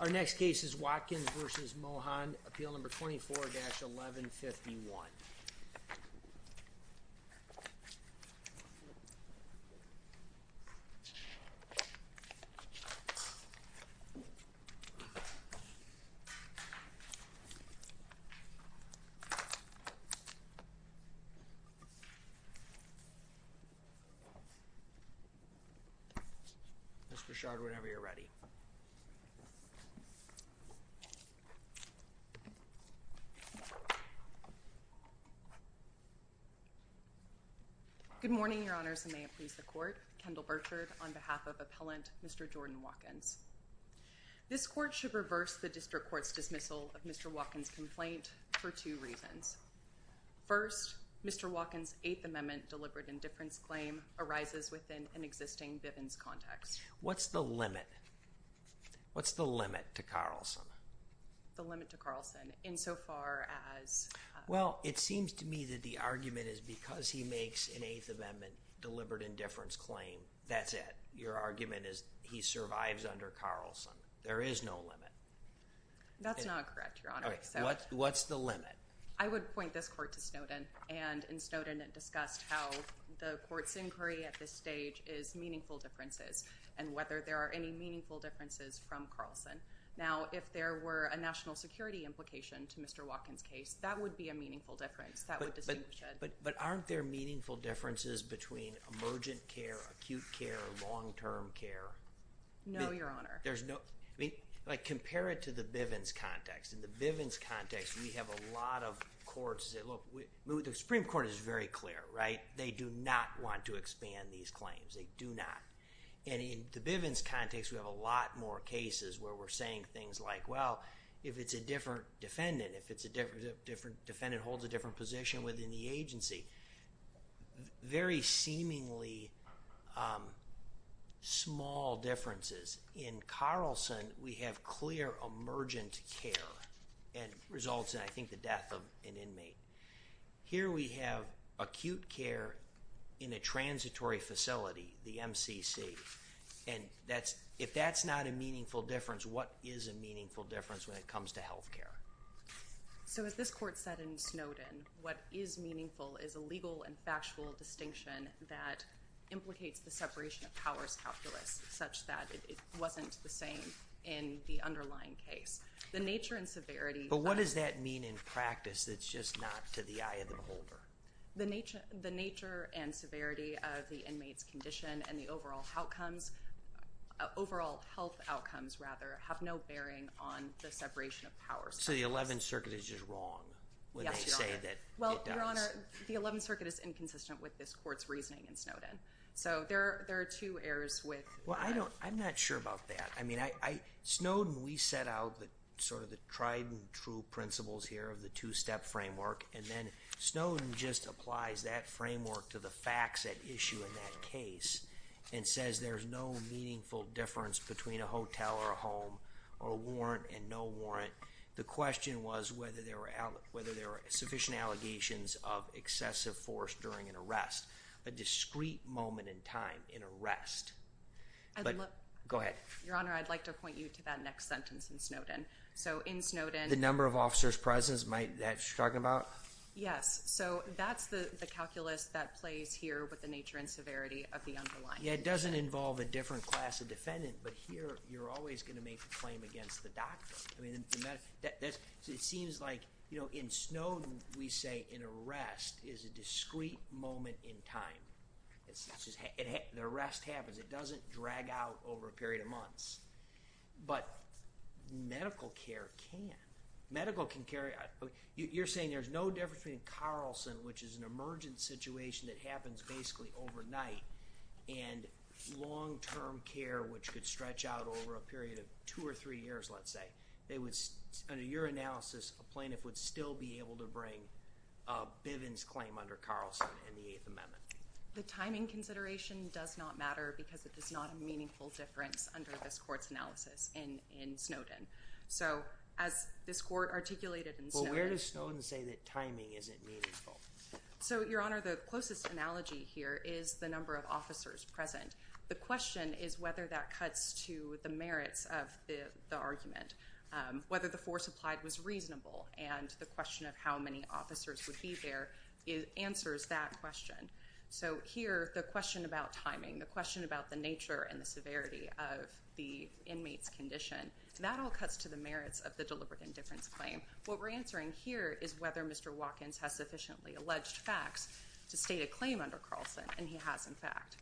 Our next case is Watkins v. Mohan, Appeal No. 24-1151. Ms. Brichard, whenever you're ready. Good morning, Your Honors, and may it please the Court, Kendall Burchard on behalf of Appellant Mr. Jordan Watkins. This Court should reverse the District Court's dismissal of Mr. Watkins' complaint for two reasons. First, Mr. Watkins' Eighth Amendment deliberate indifference claim arises within an existing Bivens context. What's the limit? What's the limit to Carlson? The limit to Carlson, insofar as— Well, it seems to me that the argument is because he makes an Eighth Amendment deliberate indifference claim, that's it. Your argument is he survives under Carlson. There is no limit. That's not correct, Your Honor. So— What's the limit? I would point this Court to Snowden, and in Snowden it discussed how the Court's inquiry at this stage is meaningful differences, and whether there are any meaningful differences from Carlson. Now, if there were a national security implication to Mr. Watkins' case, that would be a meaningful difference. That would distinguish it. But aren't there meaningful differences between emergent care, acute care, long-term care? No, Your Honor. There's no—I mean, like, compare it to the Bivens context. In the Bivens context, we have a lot of courts that—look, the Supreme Court is very clear, right? They do not want to expand these claims. They do not. And in the Bivens context, we have a lot more cases where we're saying things like, well, if it's a different defendant, if it's a different defendant holds a different position within the agency. Very seemingly small differences. In Carlson, we have clear emergent care, and results in, I think, the death of an inmate. Here we have acute care in a transitory facility, the MCC, and that's—if that's not a meaningful difference, what is a meaningful difference when it comes to health care? So as this Court said in Snowden, what is meaningful is a legal and factual distinction that implicates the separation of powers calculus, such that it wasn't the same in the underlying case. The nature and severity— But what does that mean in practice that's just not to the eye of the beholder? The nature and severity of the inmate's condition and the overall outcomes—overall health outcomes, rather, have no bearing on the separation of powers. So the Eleventh Circuit is just wrong when they say that it does. Yes, Your Honor. Well, Your Honor, the Eleventh Circuit is inconsistent with this Court's reasoning in Snowden. So there are two errors with— Well, I'm not sure about that. I mean, Snowden, we set out sort of the tried and true principles here of the two-step framework, and then Snowden just applies that framework to the facts at issue in that case and says there's no meaningful difference between a hotel or a home or a warrant and no warrant. The question was whether there were sufficient allegations of excessive force during an arrest, a discrete moment in time in arrest. I'd look— Go ahead. Your Honor, I'd like to point you to that next sentence in Snowden. So in Snowden— The number of officers present, is that what you're talking about? Yes. So that's the calculus that plays here with the nature and severity of the underlying— Yeah, it doesn't involve a different class of defendant, but here you're always going to make a claim against the doctor. I mean, it seems like, you know, in Snowden we say an arrest is a discrete moment in time. The arrest happens. It doesn't drag out over a period of months. But medical care can. Medical can carry—you're saying there's no difference between Carlson, which is an emergent situation that happens basically overnight, and long-term care, which could stretch out over a period of two or three years, let's say, under your analysis, a plaintiff would still be able to bring Bivens' claim under Carlson and the Eighth Amendment. The timing consideration does not matter because it is not a meaningful difference under this court's analysis in Snowden. So as this court articulated in Snowden— Well, where does Snowden say that timing isn't meaningful? So Your Honor, the closest analogy here is the number of officers present. The question is whether that cuts to the merits of the argument, whether the force applied was reasonable, and the question of how many officers would be there answers that question. So here, the question about timing, the question about the nature and the severity of the inmate's condition, that all cuts to the merits of the deliberate indifference claim. What we're answering here is whether Mr. Watkins has sufficiently alleged facts to state a claim under Carlson, and he has, in fact.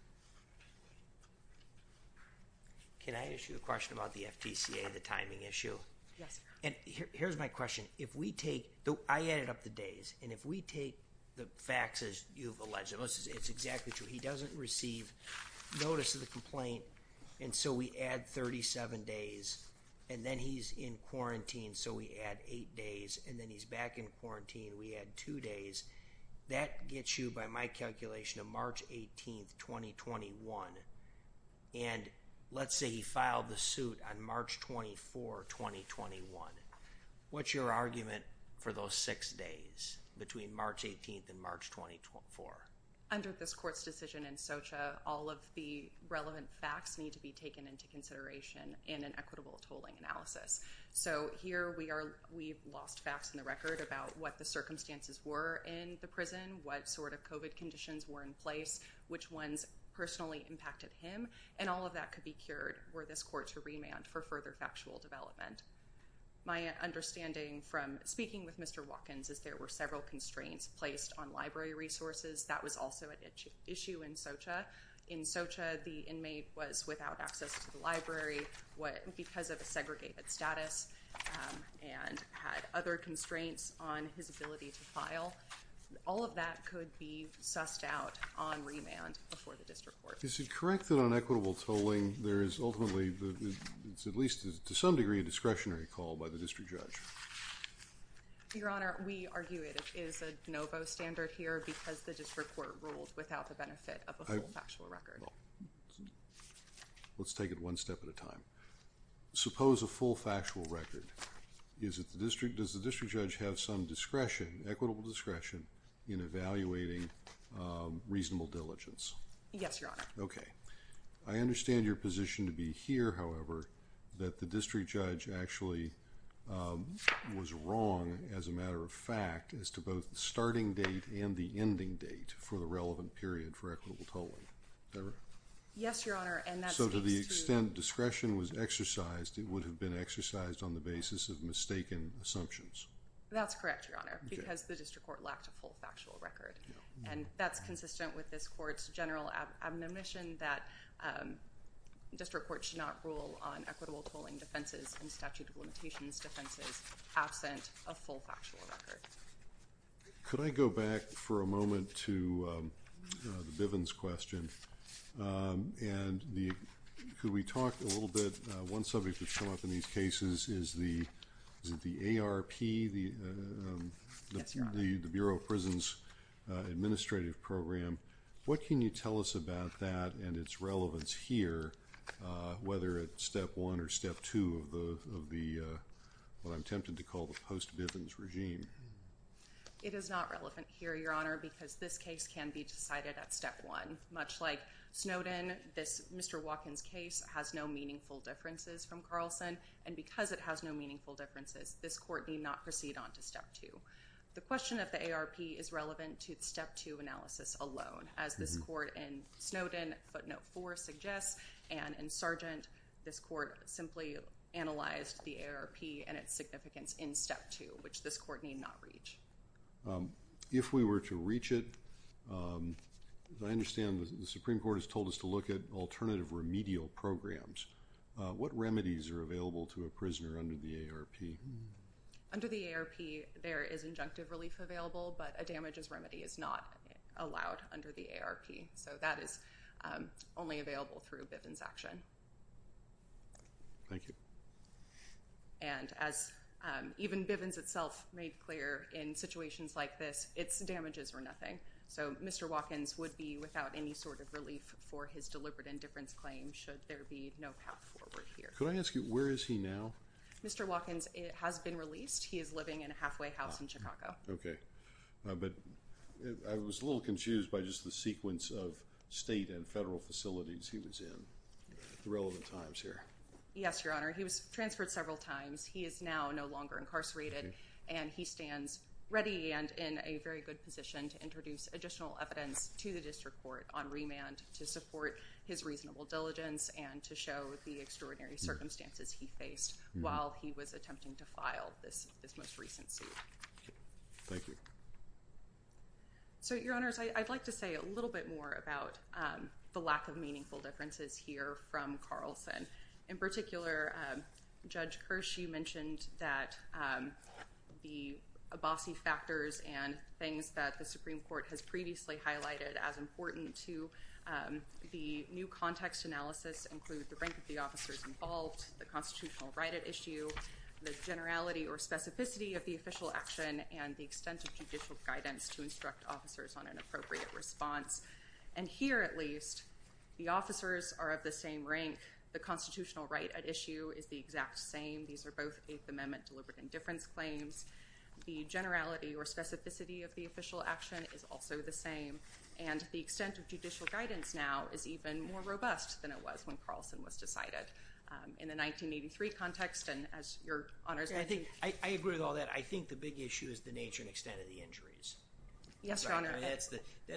Can I ask you a question about the FTCA, the timing issue? Yes, Your Honor. Here's my question. If we take—I added up the days, and if we take the facts as you've alleged, it's exactly true. He doesn't receive notice of the complaint, and so we add 37 days, and then he's in quarantine, so we add eight days, and then he's back in quarantine, we add two days. That gets you, by my calculation, to March 18th, 2021, and let's say he filed the suit on March 24, 2021. What's your argument for those six days between March 18th and March 24th? Under this court's decision in SOCHA, all of the relevant facts need to be taken into consideration in an equitable tolling analysis. So here, we've lost facts in the record about what the circumstances were in the prison, what sort of COVID conditions were in place, which ones personally impacted him, and all of that could be cured were this court to remand for further factual development. My understanding from speaking with Mr. Watkins is there were several constraints placed on library resources. That was also an issue in SOCHA. In SOCHA, the inmate was without access to the library because of a segregated status and had other constraints on his ability to file. All of that could be sussed out on remand before the district court. Is it correct that on equitable tolling, there is ultimately, at least to some degree, a discretionary call by the district judge? Your Honor, we argue it is a novo standard here because the district court ruled without the benefit of a full factual record. Let's take it one step at a time. Suppose a full factual record. Does the district judge have some discretion, equitable discretion, in evaluating reasonable diligence? Yes, Your Honor. Okay. I understand your position to be here, however, that the district judge actually was wrong as a matter of fact as to both the starting date and the ending date for the relevant period for equitable tolling. Is that right? Yes, Your Honor. To the extent discretion was exercised, it would have been exercised on the basis of mistaken assumptions. That's correct, Your Honor, because the district court lacked a full factual record. That's consistent with this court's general admonition that district courts should not rule on equitable tolling defenses and statute of limitations defenses absent a full factual record. Could I go back for a moment to the Bivens question? Could we talk a little bit, one subject that's come up in these cases is the ARP, the Bureau of Prisons Administrative Program. What can you tell us about that and its relevance here, whether it's Step 1 or Step 2 of the, what I'm tempted to call the post-Bivens regime? It is not relevant here, Your Honor, because this case can be decided at Step 1. Much like Snowden, this Mr. Watkins case has no meaningful differences from Carlson, and because it has no meaningful differences, this court need not proceed on to Step 2. The question of the ARP is relevant to Step 2 analysis alone. As this court in Snowden footnote 4 suggests, and in Sargent, this court simply analyzed the ARP and its significance in Step 2, which this court need not reach. If we were to reach it, I understand the Supreme Court has told us to look at alternative remedial programs. What remedies are available to a prisoner under the ARP? Under the ARP, there is injunctive relief available, but a damages remedy is not allowed under the ARP. So, that is only available through Bivens action. Thank you. And as even Bivens itself made clear in situations like this, its damages were nothing. So, Mr. Watkins would be without any sort of relief for his deliberate indifference claim should there be no path forward here. Could I ask you, where is he now? Mr. Watkins has been released. He is living in a halfway house in Chicago. But I was a little confused by just the sequence of state and federal facilities he was in at the relevant times here. Yes, Your Honor. He was transferred several times. He is now no longer incarcerated, and he stands ready and in a very good position to introduce additional evidence to the District Court on remand to support his reasonable diligence and to show the extraordinary circumstances he faced while he was attempting to file this most recent suit. Thank you. So, Your Honors, I'd like to say a little bit more about the lack of meaningful differences here from Carlson. In particular, Judge Hershey mentioned that the Abbasi factors and things that the Supreme Court's analysis include the rank of the officers involved, the constitutional right at issue, the generality or specificity of the official action, and the extent of judicial guidance to instruct officers on an appropriate response. And here, at least, the officers are of the same rank. The constitutional right at issue is the exact same. These are both Eighth Amendment deliberate indifference claims. The generality or specificity of the official action is also the same. And the extent of judicial guidance now is even more robust than it was when Carlson was decided. In the 1983 context, and as Your Honors, I think... I agree with all that. I think the big issue is the nature and extent of the injuries. Yes, Your Honor. That's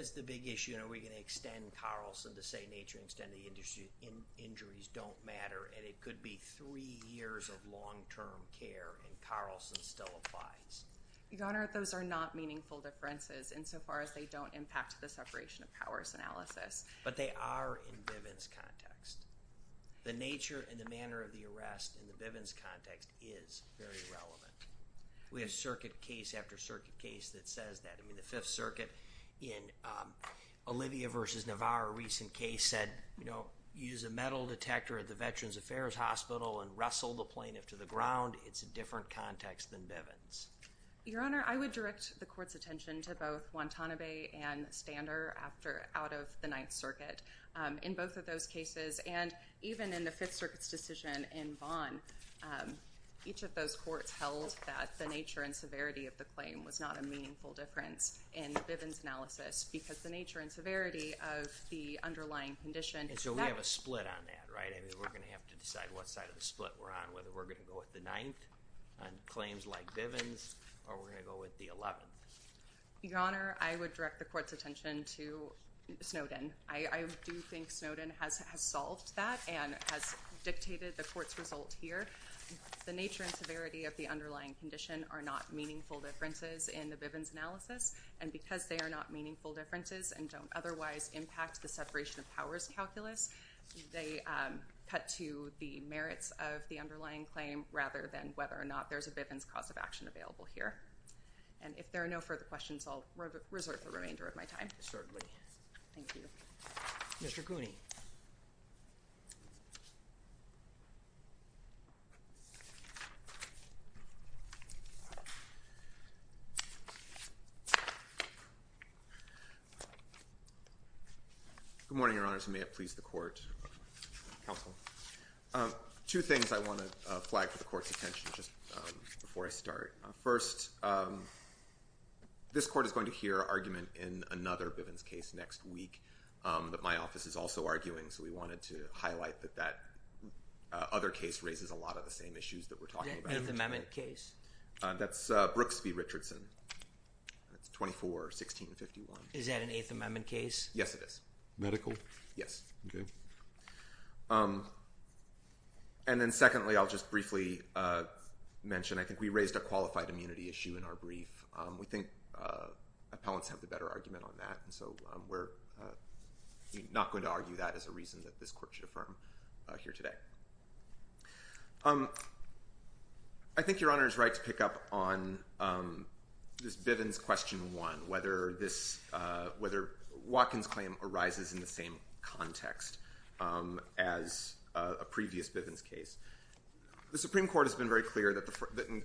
the big issue. And are we going to extend Carlson to say nature and extent of the injuries don't matter? And it could be three years of long-term care, and Carlson still applies. Your Honor, those are not meaningful differences insofar as they don't impact the separation of powers analysis. But they are in Bivens' context. The nature and the manner of the arrest in the Bivens' context is very relevant. We have circuit case after circuit case that says that. I mean, the Fifth Circuit in Olivia v. Navarro, a recent case, said, you know, use a metal detector at the Veterans Affairs Hospital and wrestle the plaintiff to the ground. It's a different context than Bivens'. Your Honor, I would direct the Court's attention to both Guantanamo Bay and Stander after... out of the Ninth Circuit. In both of those cases, and even in the Fifth Circuit's decision in Vaughan, each of those courts held that the nature and severity of the claim was not a meaningful difference in the Bivens' analysis because the nature and severity of the underlying condition... And so we have a split on that, right? I mean, we're going to have to decide what side of the split we're on, whether we're going to go with the Ninth on claims like Bivens' or we're going to go with the Eleventh. Your Honor, I would direct the Court's attention to Snowden. I do think Snowden has solved that and has dictated the Court's result here. The nature and severity of the underlying condition are not meaningful differences in the Bivens' analysis, and because they are not meaningful differences and don't otherwise impact the separation of powers calculus, they cut to the merits of the underlying claim rather than whether or not there's a Bivens' cause of action available here. And if there are no further questions, I'll resort to the remainder of my time shortly. Thank you. Mr. Cooney. Good morning, Your Honors, and may it please the Court, Counsel. Two things I want to flag for the Court's attention just before I start. First, this Court is going to hear argument in another Bivens' case next week that my office is also arguing, so we wanted to highlight that that other case raises a lot of the same issues that we're talking about. Is that an Eighth Amendment case? That's Brooks v. Richardson. That's 24, 1651. Is that an Eighth Amendment case? Yes, it is. Medical? Yes. Okay. And then secondly, I'll just briefly mention, I think we raised a qualified immunity issue in our brief. We think appellants have the better argument on that, and so we're not going to argue that as a reason that this Court should affirm here today. I think Your Honor is right to pick up on this Bivens' question one, whether Watkins' claim arises in the same context as a previous Bivens' case. The Supreme Court has been very clear that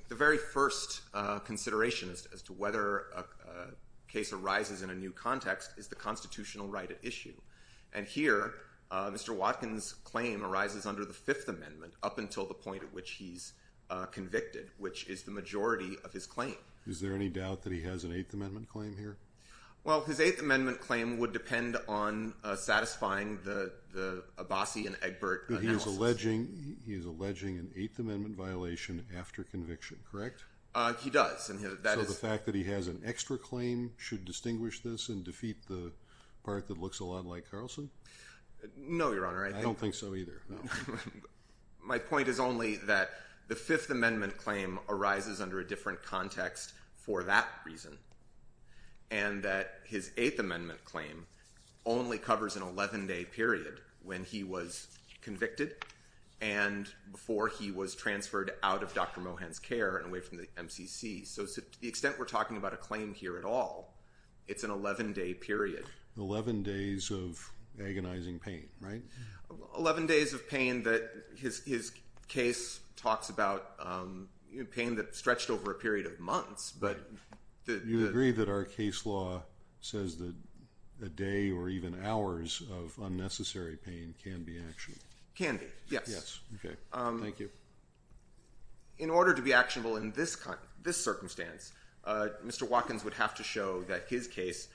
the very first consideration as to whether a case arises in a new context is the constitutional right at issue. And here, Mr. Watkins' claim arises under the Fifth Amendment up until the point at which he's convicted, which is the majority of his claim. Is there any doubt that he has an Eighth Amendment claim here? Well, his Eighth Amendment claim would depend on satisfying the Abbasi and Egbert analysis. But he is alleging an Eighth Amendment violation after conviction, correct? He does. So the fact that he has an extra claim should distinguish this and defeat the part that looks a lot like Carlson? No Your Honor. I don't think so either. My point is only that the Fifth Amendment claim arises under a different context for that reason, and that his Eighth Amendment claim only covers an 11-day period when he was convicted and before he was transferred out of Dr. Mohan's care and away from the MCC. So to the extent we're talking about a claim here at all, it's an 11-day period. Eleven days of agonizing pain, right? Eleven days of pain that his case talks about pain that stretched over a period of months, You agree that our case law says that a day or even hours of unnecessary pain can be actionable? Can be, yes. In order to be actionable in this circumstance, Mr. Watkins would have to show that his case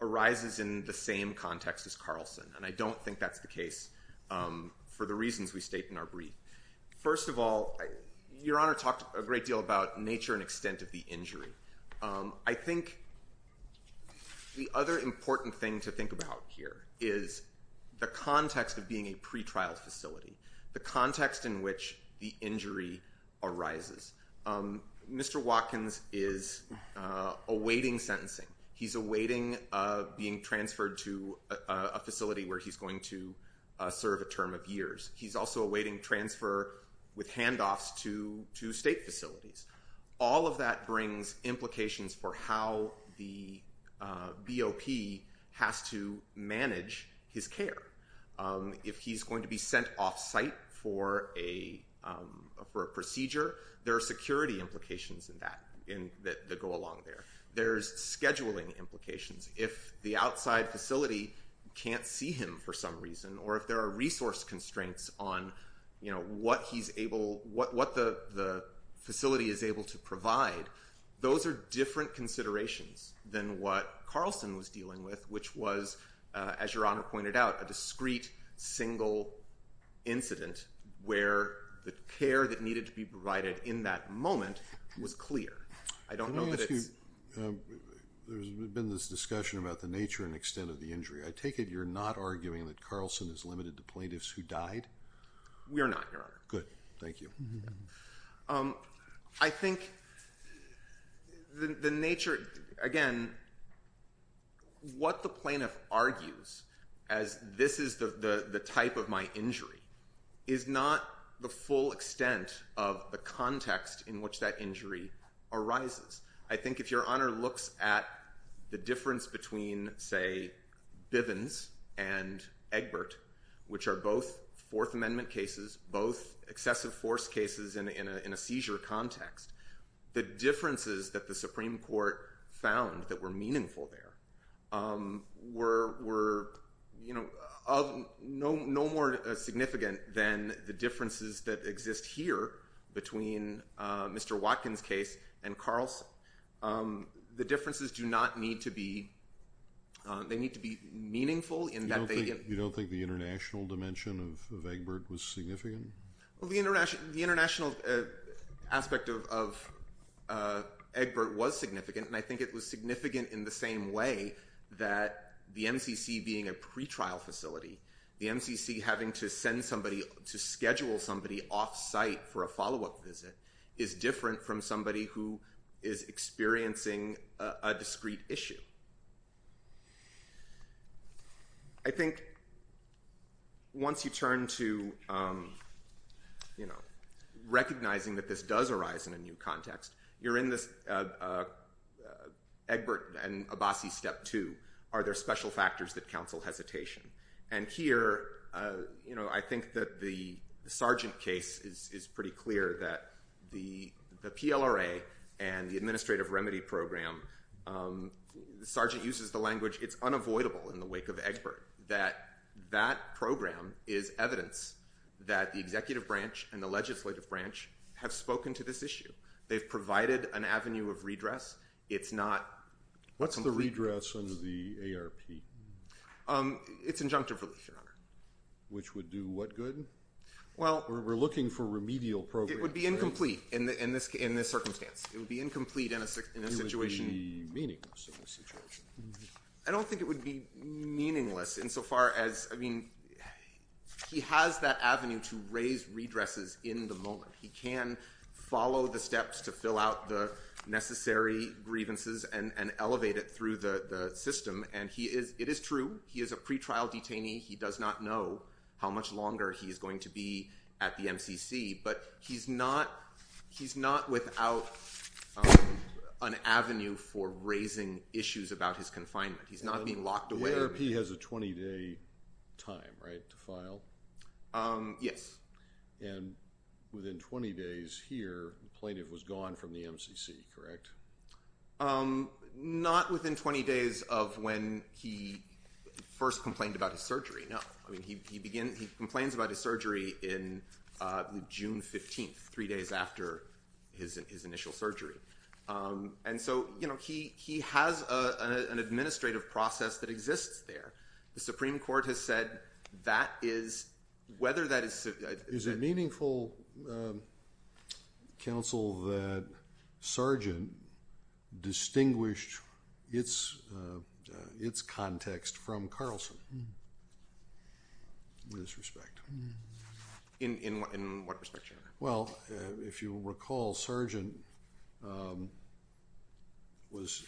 arises in the same context as Carlson, and I don't think that's the case for the reasons we state in our brief. First of all, Your Honor talked a great deal about nature and extent of the injury. I think the other important thing to think about here is the context of being a pretrial facility, the context in which the injury arises. Mr. Watkins is awaiting sentencing. He's awaiting being transferred to a facility where he's going to serve a term of years. He's also awaiting transfer with handoffs to state facilities. All of that brings implications for how the BOP has to manage his care. If he's going to be sent off-site for a procedure, there are security implications that go along there. There's scheduling implications. If the outside facility can't see him for some reason, or if there are resource constraints on what the facility is able to provide, those are different considerations than what Carlson was dealing with, which was, as Your Honor pointed out, a discrete single incident where the care that needed to be provided in that moment was clear. I don't know that it's- Let me ask you, there's been this discussion about the nature and extent of the injury. I take it you're not arguing that Carlson is limited to plaintiffs who died? We are not, Your Honor. Good. Thank you. I think the nature, again, what the plaintiff argues as this is the type of my injury is not the full extent of the context in which that injury arises. I think if Your Honor looks at the difference between, say, Bivens and Egbert, which are both Fourth Amendment cases, both excessive force cases in a seizure context, the differences that the Supreme Court found that were meaningful there were no more significant than the differences that exist here between Mr. Watkins' case and Carlson. The differences do not need to be... They need to be meaningful in that they- You don't think the international dimension of Egbert was significant? Well, the international aspect of Egbert was significant, and I think it was significant in the same way that the MCC being a pretrial facility, the MCC having to send somebody, to schedule somebody off-site for a follow-up visit is different from somebody who is experiencing a discrete issue. I think once you turn to, you know, recognizing that this does arise in a new context, you're in this Egbert and Abbasi Step 2, are there special factors that counsel hesitation? And here, you know, I think that the Sargent case is pretty clear that the PLRA and the Administrative Remedy Program, Sargent uses the language, it's unavoidable in the wake of Egbert, that that program is evidence that the executive branch and the legislative branch have spoken to this issue. They've provided an avenue of redress. It's not- What's the redress under the ARP? It's injunctive relief, Your Honor. Which would do what good? Well- We're looking for remedial programs. It would be incomplete in this circumstance. It would be incomplete in a situation- It would be meaningless in this situation. I don't think it would be meaningless insofar as, I mean, he has that avenue to raise redresses in the moment. He can follow the steps to fill out the necessary grievances and elevate it through the system. And it is true, he is a pretrial detainee. He does not know how much longer he is going to be at the MCC. But he's not without an avenue for raising issues about his confinement. He's not being locked away- The ARP has a 20-day time, right, to file? Yes. And within 20 days here, the plaintiff was gone from the MCC, correct? Not within 20 days of when he first complained about his surgery, no. I mean, he complains about his surgery in June 15th, three days after his initial surgery. And so, you know, he has an administrative process that exists there. The Supreme Court has said that is, whether that is- Is it meaningful, counsel, that Sargent distinguished its context from Carlson? In this respect. In what respect, Your Honor? Well, if you recall, Sargent was-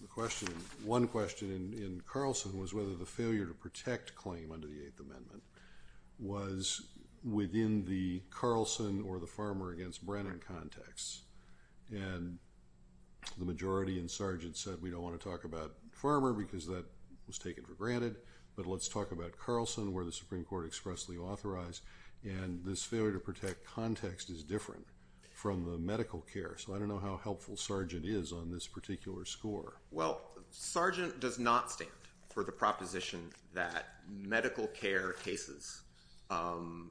The question, one question in Carlson was whether the failure to protect claim under the Eighth Amendment was within the Carlson or the Farmer against Brennan context. And the majority in Sargent said, we don't want to talk about Farmer because that was taken for granted. But let's talk about Carlson, where the Supreme Court expressly authorized. And this failure to protect context is different from the medical care. So I don't know how helpful Sargent is on this particular score. Well, Sargent does not stand for the proposition that medical care cases are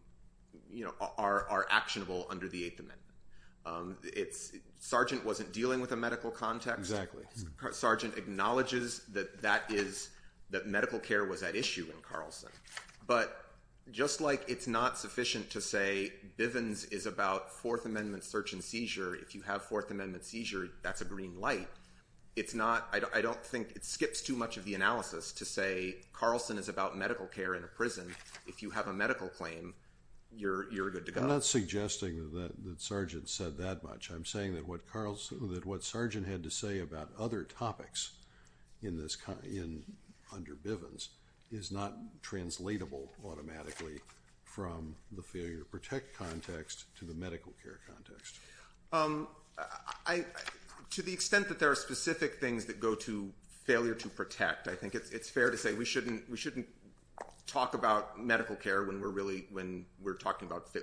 actionable under the Eighth Amendment. It's- Sargent wasn't dealing with a medical context. Sargent acknowledges that that is- that medical care was at issue in Carlson. But just like it's not sufficient to say Bivens is about Fourth Amendment search and seizure, if you have Fourth Amendment seizure, that's a green light. It's not- I don't think- it skips too much of the analysis to say Carlson is about medical care in a prison. If you have a medical claim, you're good to go. I'm not suggesting that Sargent said that much. I'm saying that what Carlson- that what Sargent had to say about other topics in this- under Bivens is not translatable automatically from the failure to protect context to the medical care context. To the extent that there are specific things that go to failure to protect, I think it's fair to say we shouldn't- we shouldn't talk about medical care when we're really- when we're talking about-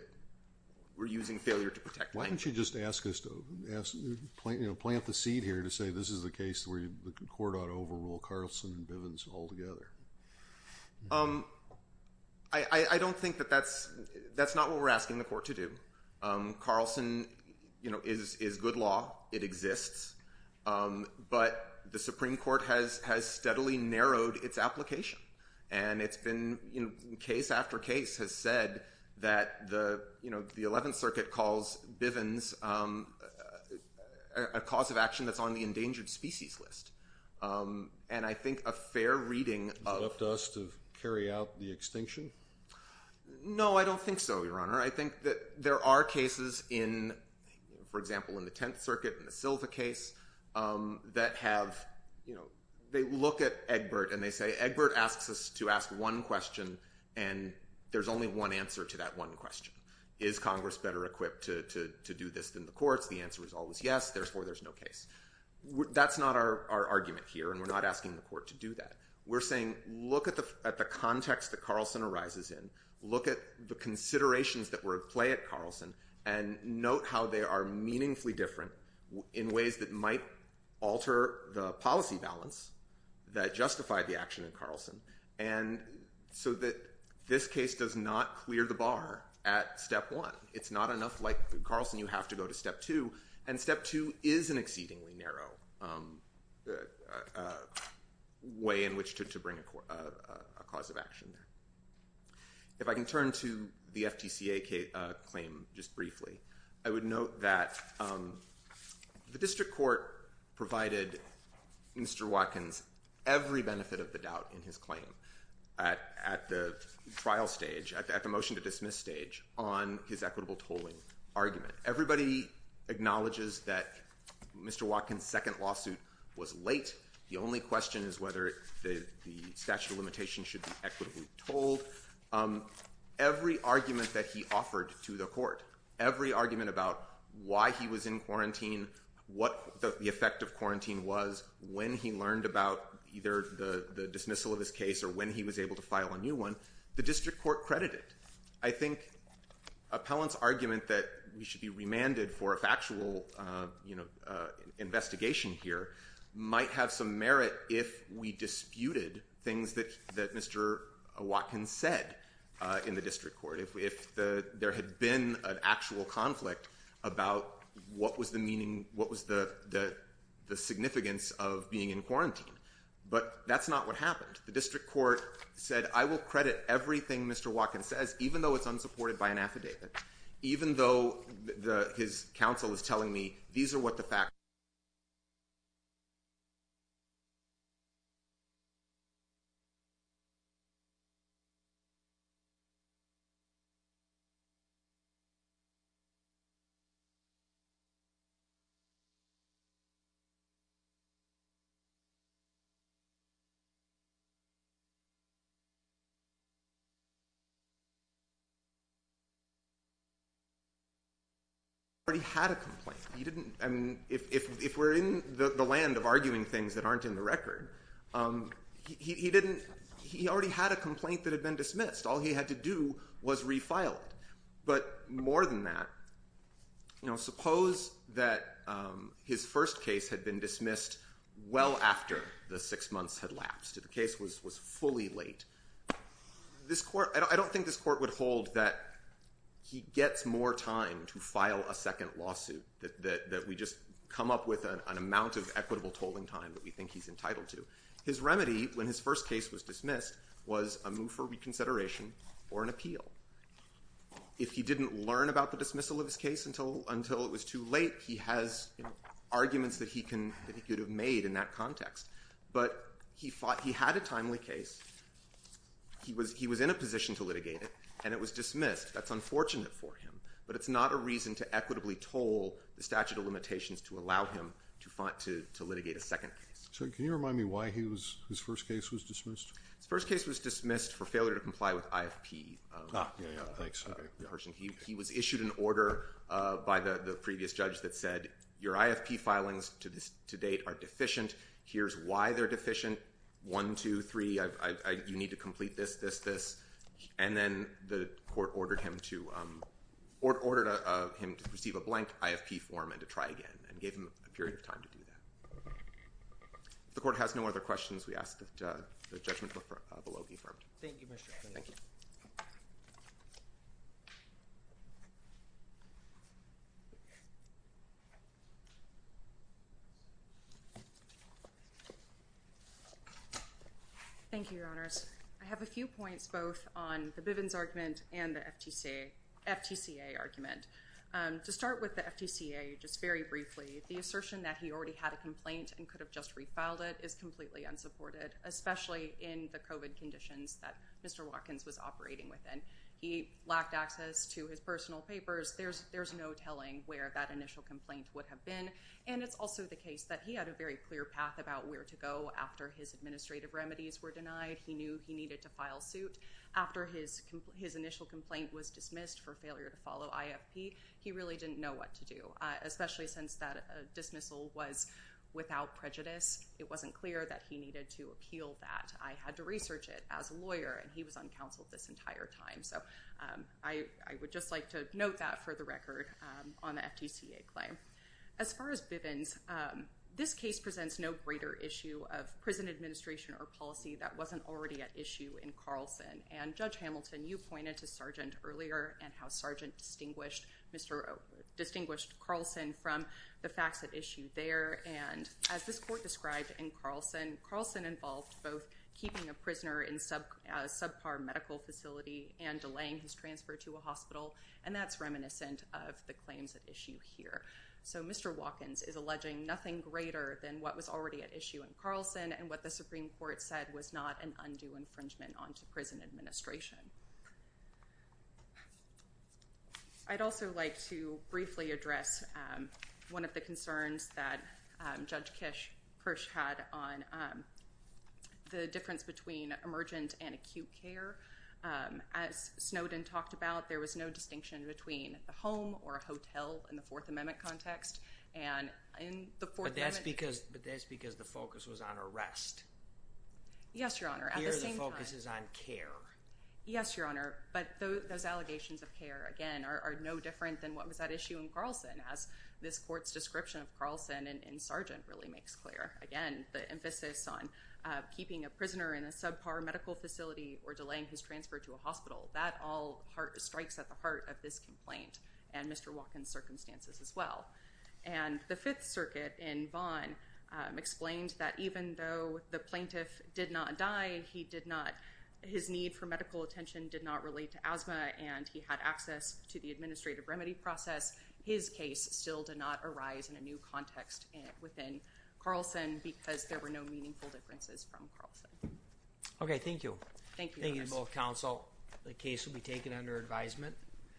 we're using failure to protect. Why don't you just ask us to- plant the seed here to say this is the case where the court ought to overrule Carlson and Bivens altogether. I don't think that that's- that's not what we're asking the court to do. Carlson, you know, is good law. It exists. But the Supreme Court has steadily narrowed its application. And it's been- case after case has said that the, you know, the 11th Circuit calls Bivens a cause of action that's on the endangered species list. And I think a fair reading of- Left us to carry out the extinction? No, I don't think so, Your Honor. I think that there are cases in, for example, in the 10th Circuit, in the Silva case, that have, you know, they look at Egbert and they say Egbert asks us to ask one question and there's only one answer to that one question. Is Congress better equipped to do this than the courts? The answer is always yes, therefore there's no case. That's not our argument here and we're not asking the court to do that. We're saying look at the context that Carlson arises in. Look at the considerations that were at play at Carlson and note how they are meaningfully different in ways that might alter the policy balance that justified the action in Carlson. And so that this case does not clear the bar at step one. It's not enough like Carlson, you have to go to step two. And step two is an exceedingly narrow way in which to bring a cause of action. If I can turn to the FTCA claim just briefly, I would note that the district court provided Mr. Watkins every benefit of the doubt in his claim at the trial stage, at the motion to dismiss stage, on his equitable tolling argument. Everybody acknowledges that Mr. Watkins' second lawsuit was late. The only question is whether the statute of limitations should be equitably tolled. Every argument that he offered to the court, every argument about why he was in quarantine, what the effect of quarantine was, when he learned about either the dismissal of his case or when he was able to file a new one, the district court credited. I think appellant's argument that we should be remanded for a factual investigation here might have some merit if we disputed things that Mr. Watkins said in the district court, if there had been an actual conflict about what was the significance of being in quarantine. But that's not what happened. The district court said, I will credit everything Mr. Watkins says, even though it's unsupported by an affidavit, even though his counsel is telling me these are what the facts are. He already had a complaint. If we're in the land of arguing things that aren't in the record, he already had a complaint that had been dismissed. All he had to do was refile it. But more than that, suppose that his first case had been dismissed well after the six months had lapsed, the case was fully late. I don't think this court would hold that he gets more time to file a second lawsuit, that we just come up with an amount of equitable tolling time that we think he's entitled to. His remedy, when his first case was dismissed, was a move for reconsideration or an appeal. If he didn't learn about the dismissal of his case until it was too late, he has arguments that he could have made in that context. But he had a timely case. He was in a position to litigate it, and it was dismissed. That's unfortunate for him. But it's not a reason to equitably toll the statute of limitations to allow him to litigate a second case. So can you remind me why his first case was dismissed? His first case was dismissed for failure to comply with IFP. Ah, yeah, yeah. Thanks. He was issued an order by the previous judge that said, your IFP filings to date are deficient. Here's why they're deficient. One, two, three. You need to complete this, this, this. And then the court ordered him to receive a blank IFP form and to try again and gave him a period of time to do that. If the court has no other questions, we ask that the judgment be affirmed. Thank you, Mr. Kline. Thank you. Thank you, Your Honors. I have a few points both on the Bivens argument and the FTCA argument. To start with the FTCA, just very briefly, the assertion that he already had a complaint and could have just refiled it is completely unsupported, especially in the COVID conditions that Mr. Watkins was operating within. He lacked access to his personal papers. There's no telling where that initial complaint would have been. And it's also the case that he had a very clear path about where to go. After his administrative remedies were denied, he knew he needed to file suit. After his initial complaint was dismissed for failure to follow IFP, he really didn't know what to do, especially since that dismissal was without prejudice. It wasn't clear that he needed to appeal that. I had to research it as a lawyer, and he was uncounseled this entire time. So I would just like to note that for the record on the FTCA claim. As far as Bivens, this case presents no greater issue of prison administration or policy that wasn't already at issue in Carlson. And Judge Hamilton, you pointed to Sargent earlier and how Sargent distinguished Carlson from the facts at issue there. And as this court described in Carlson, Carlson involved both keeping a prisoner in a subpar medical facility and delaying his transfer to a hospital. And that's reminiscent of the claims at issue here. So Mr. Watkins is alleging nothing greater than what was already at issue in Carlson and what the Supreme Court said was not an undue infringement onto prison administration. I'd also like to briefly address one of the concerns that Judge Kirsch had on the difference between emergent and acute care. As Snowden talked about, there was no distinction between the home or a hotel in the Fourth Amendment context. But that's because the focus was on arrest. Yes, Your Honor. Here the focus is on care. Yes, Your Honor. But those allegations of care, again, are no different than what was at issue in Carlson as this court's description of Carlson and Sargent really makes clear. Again, the emphasis on keeping a prisoner in a subpar medical facility or delaying his transfer to a hospital, that all strikes at the heart of this complaint and Mr. Watkins' circumstances as well. And the Fifth Circuit in Vaughan explained that even though the plaintiff did not die, his need for medical attention did not relate to asthma and he had access to the administrative remedy process, his case still did not arise in a new context within Carlson because there were no meaningful differences from Carlson. Okay, thank you. Thank you, Your Honor. Thank you to both counsel. The case will be taken under advisement.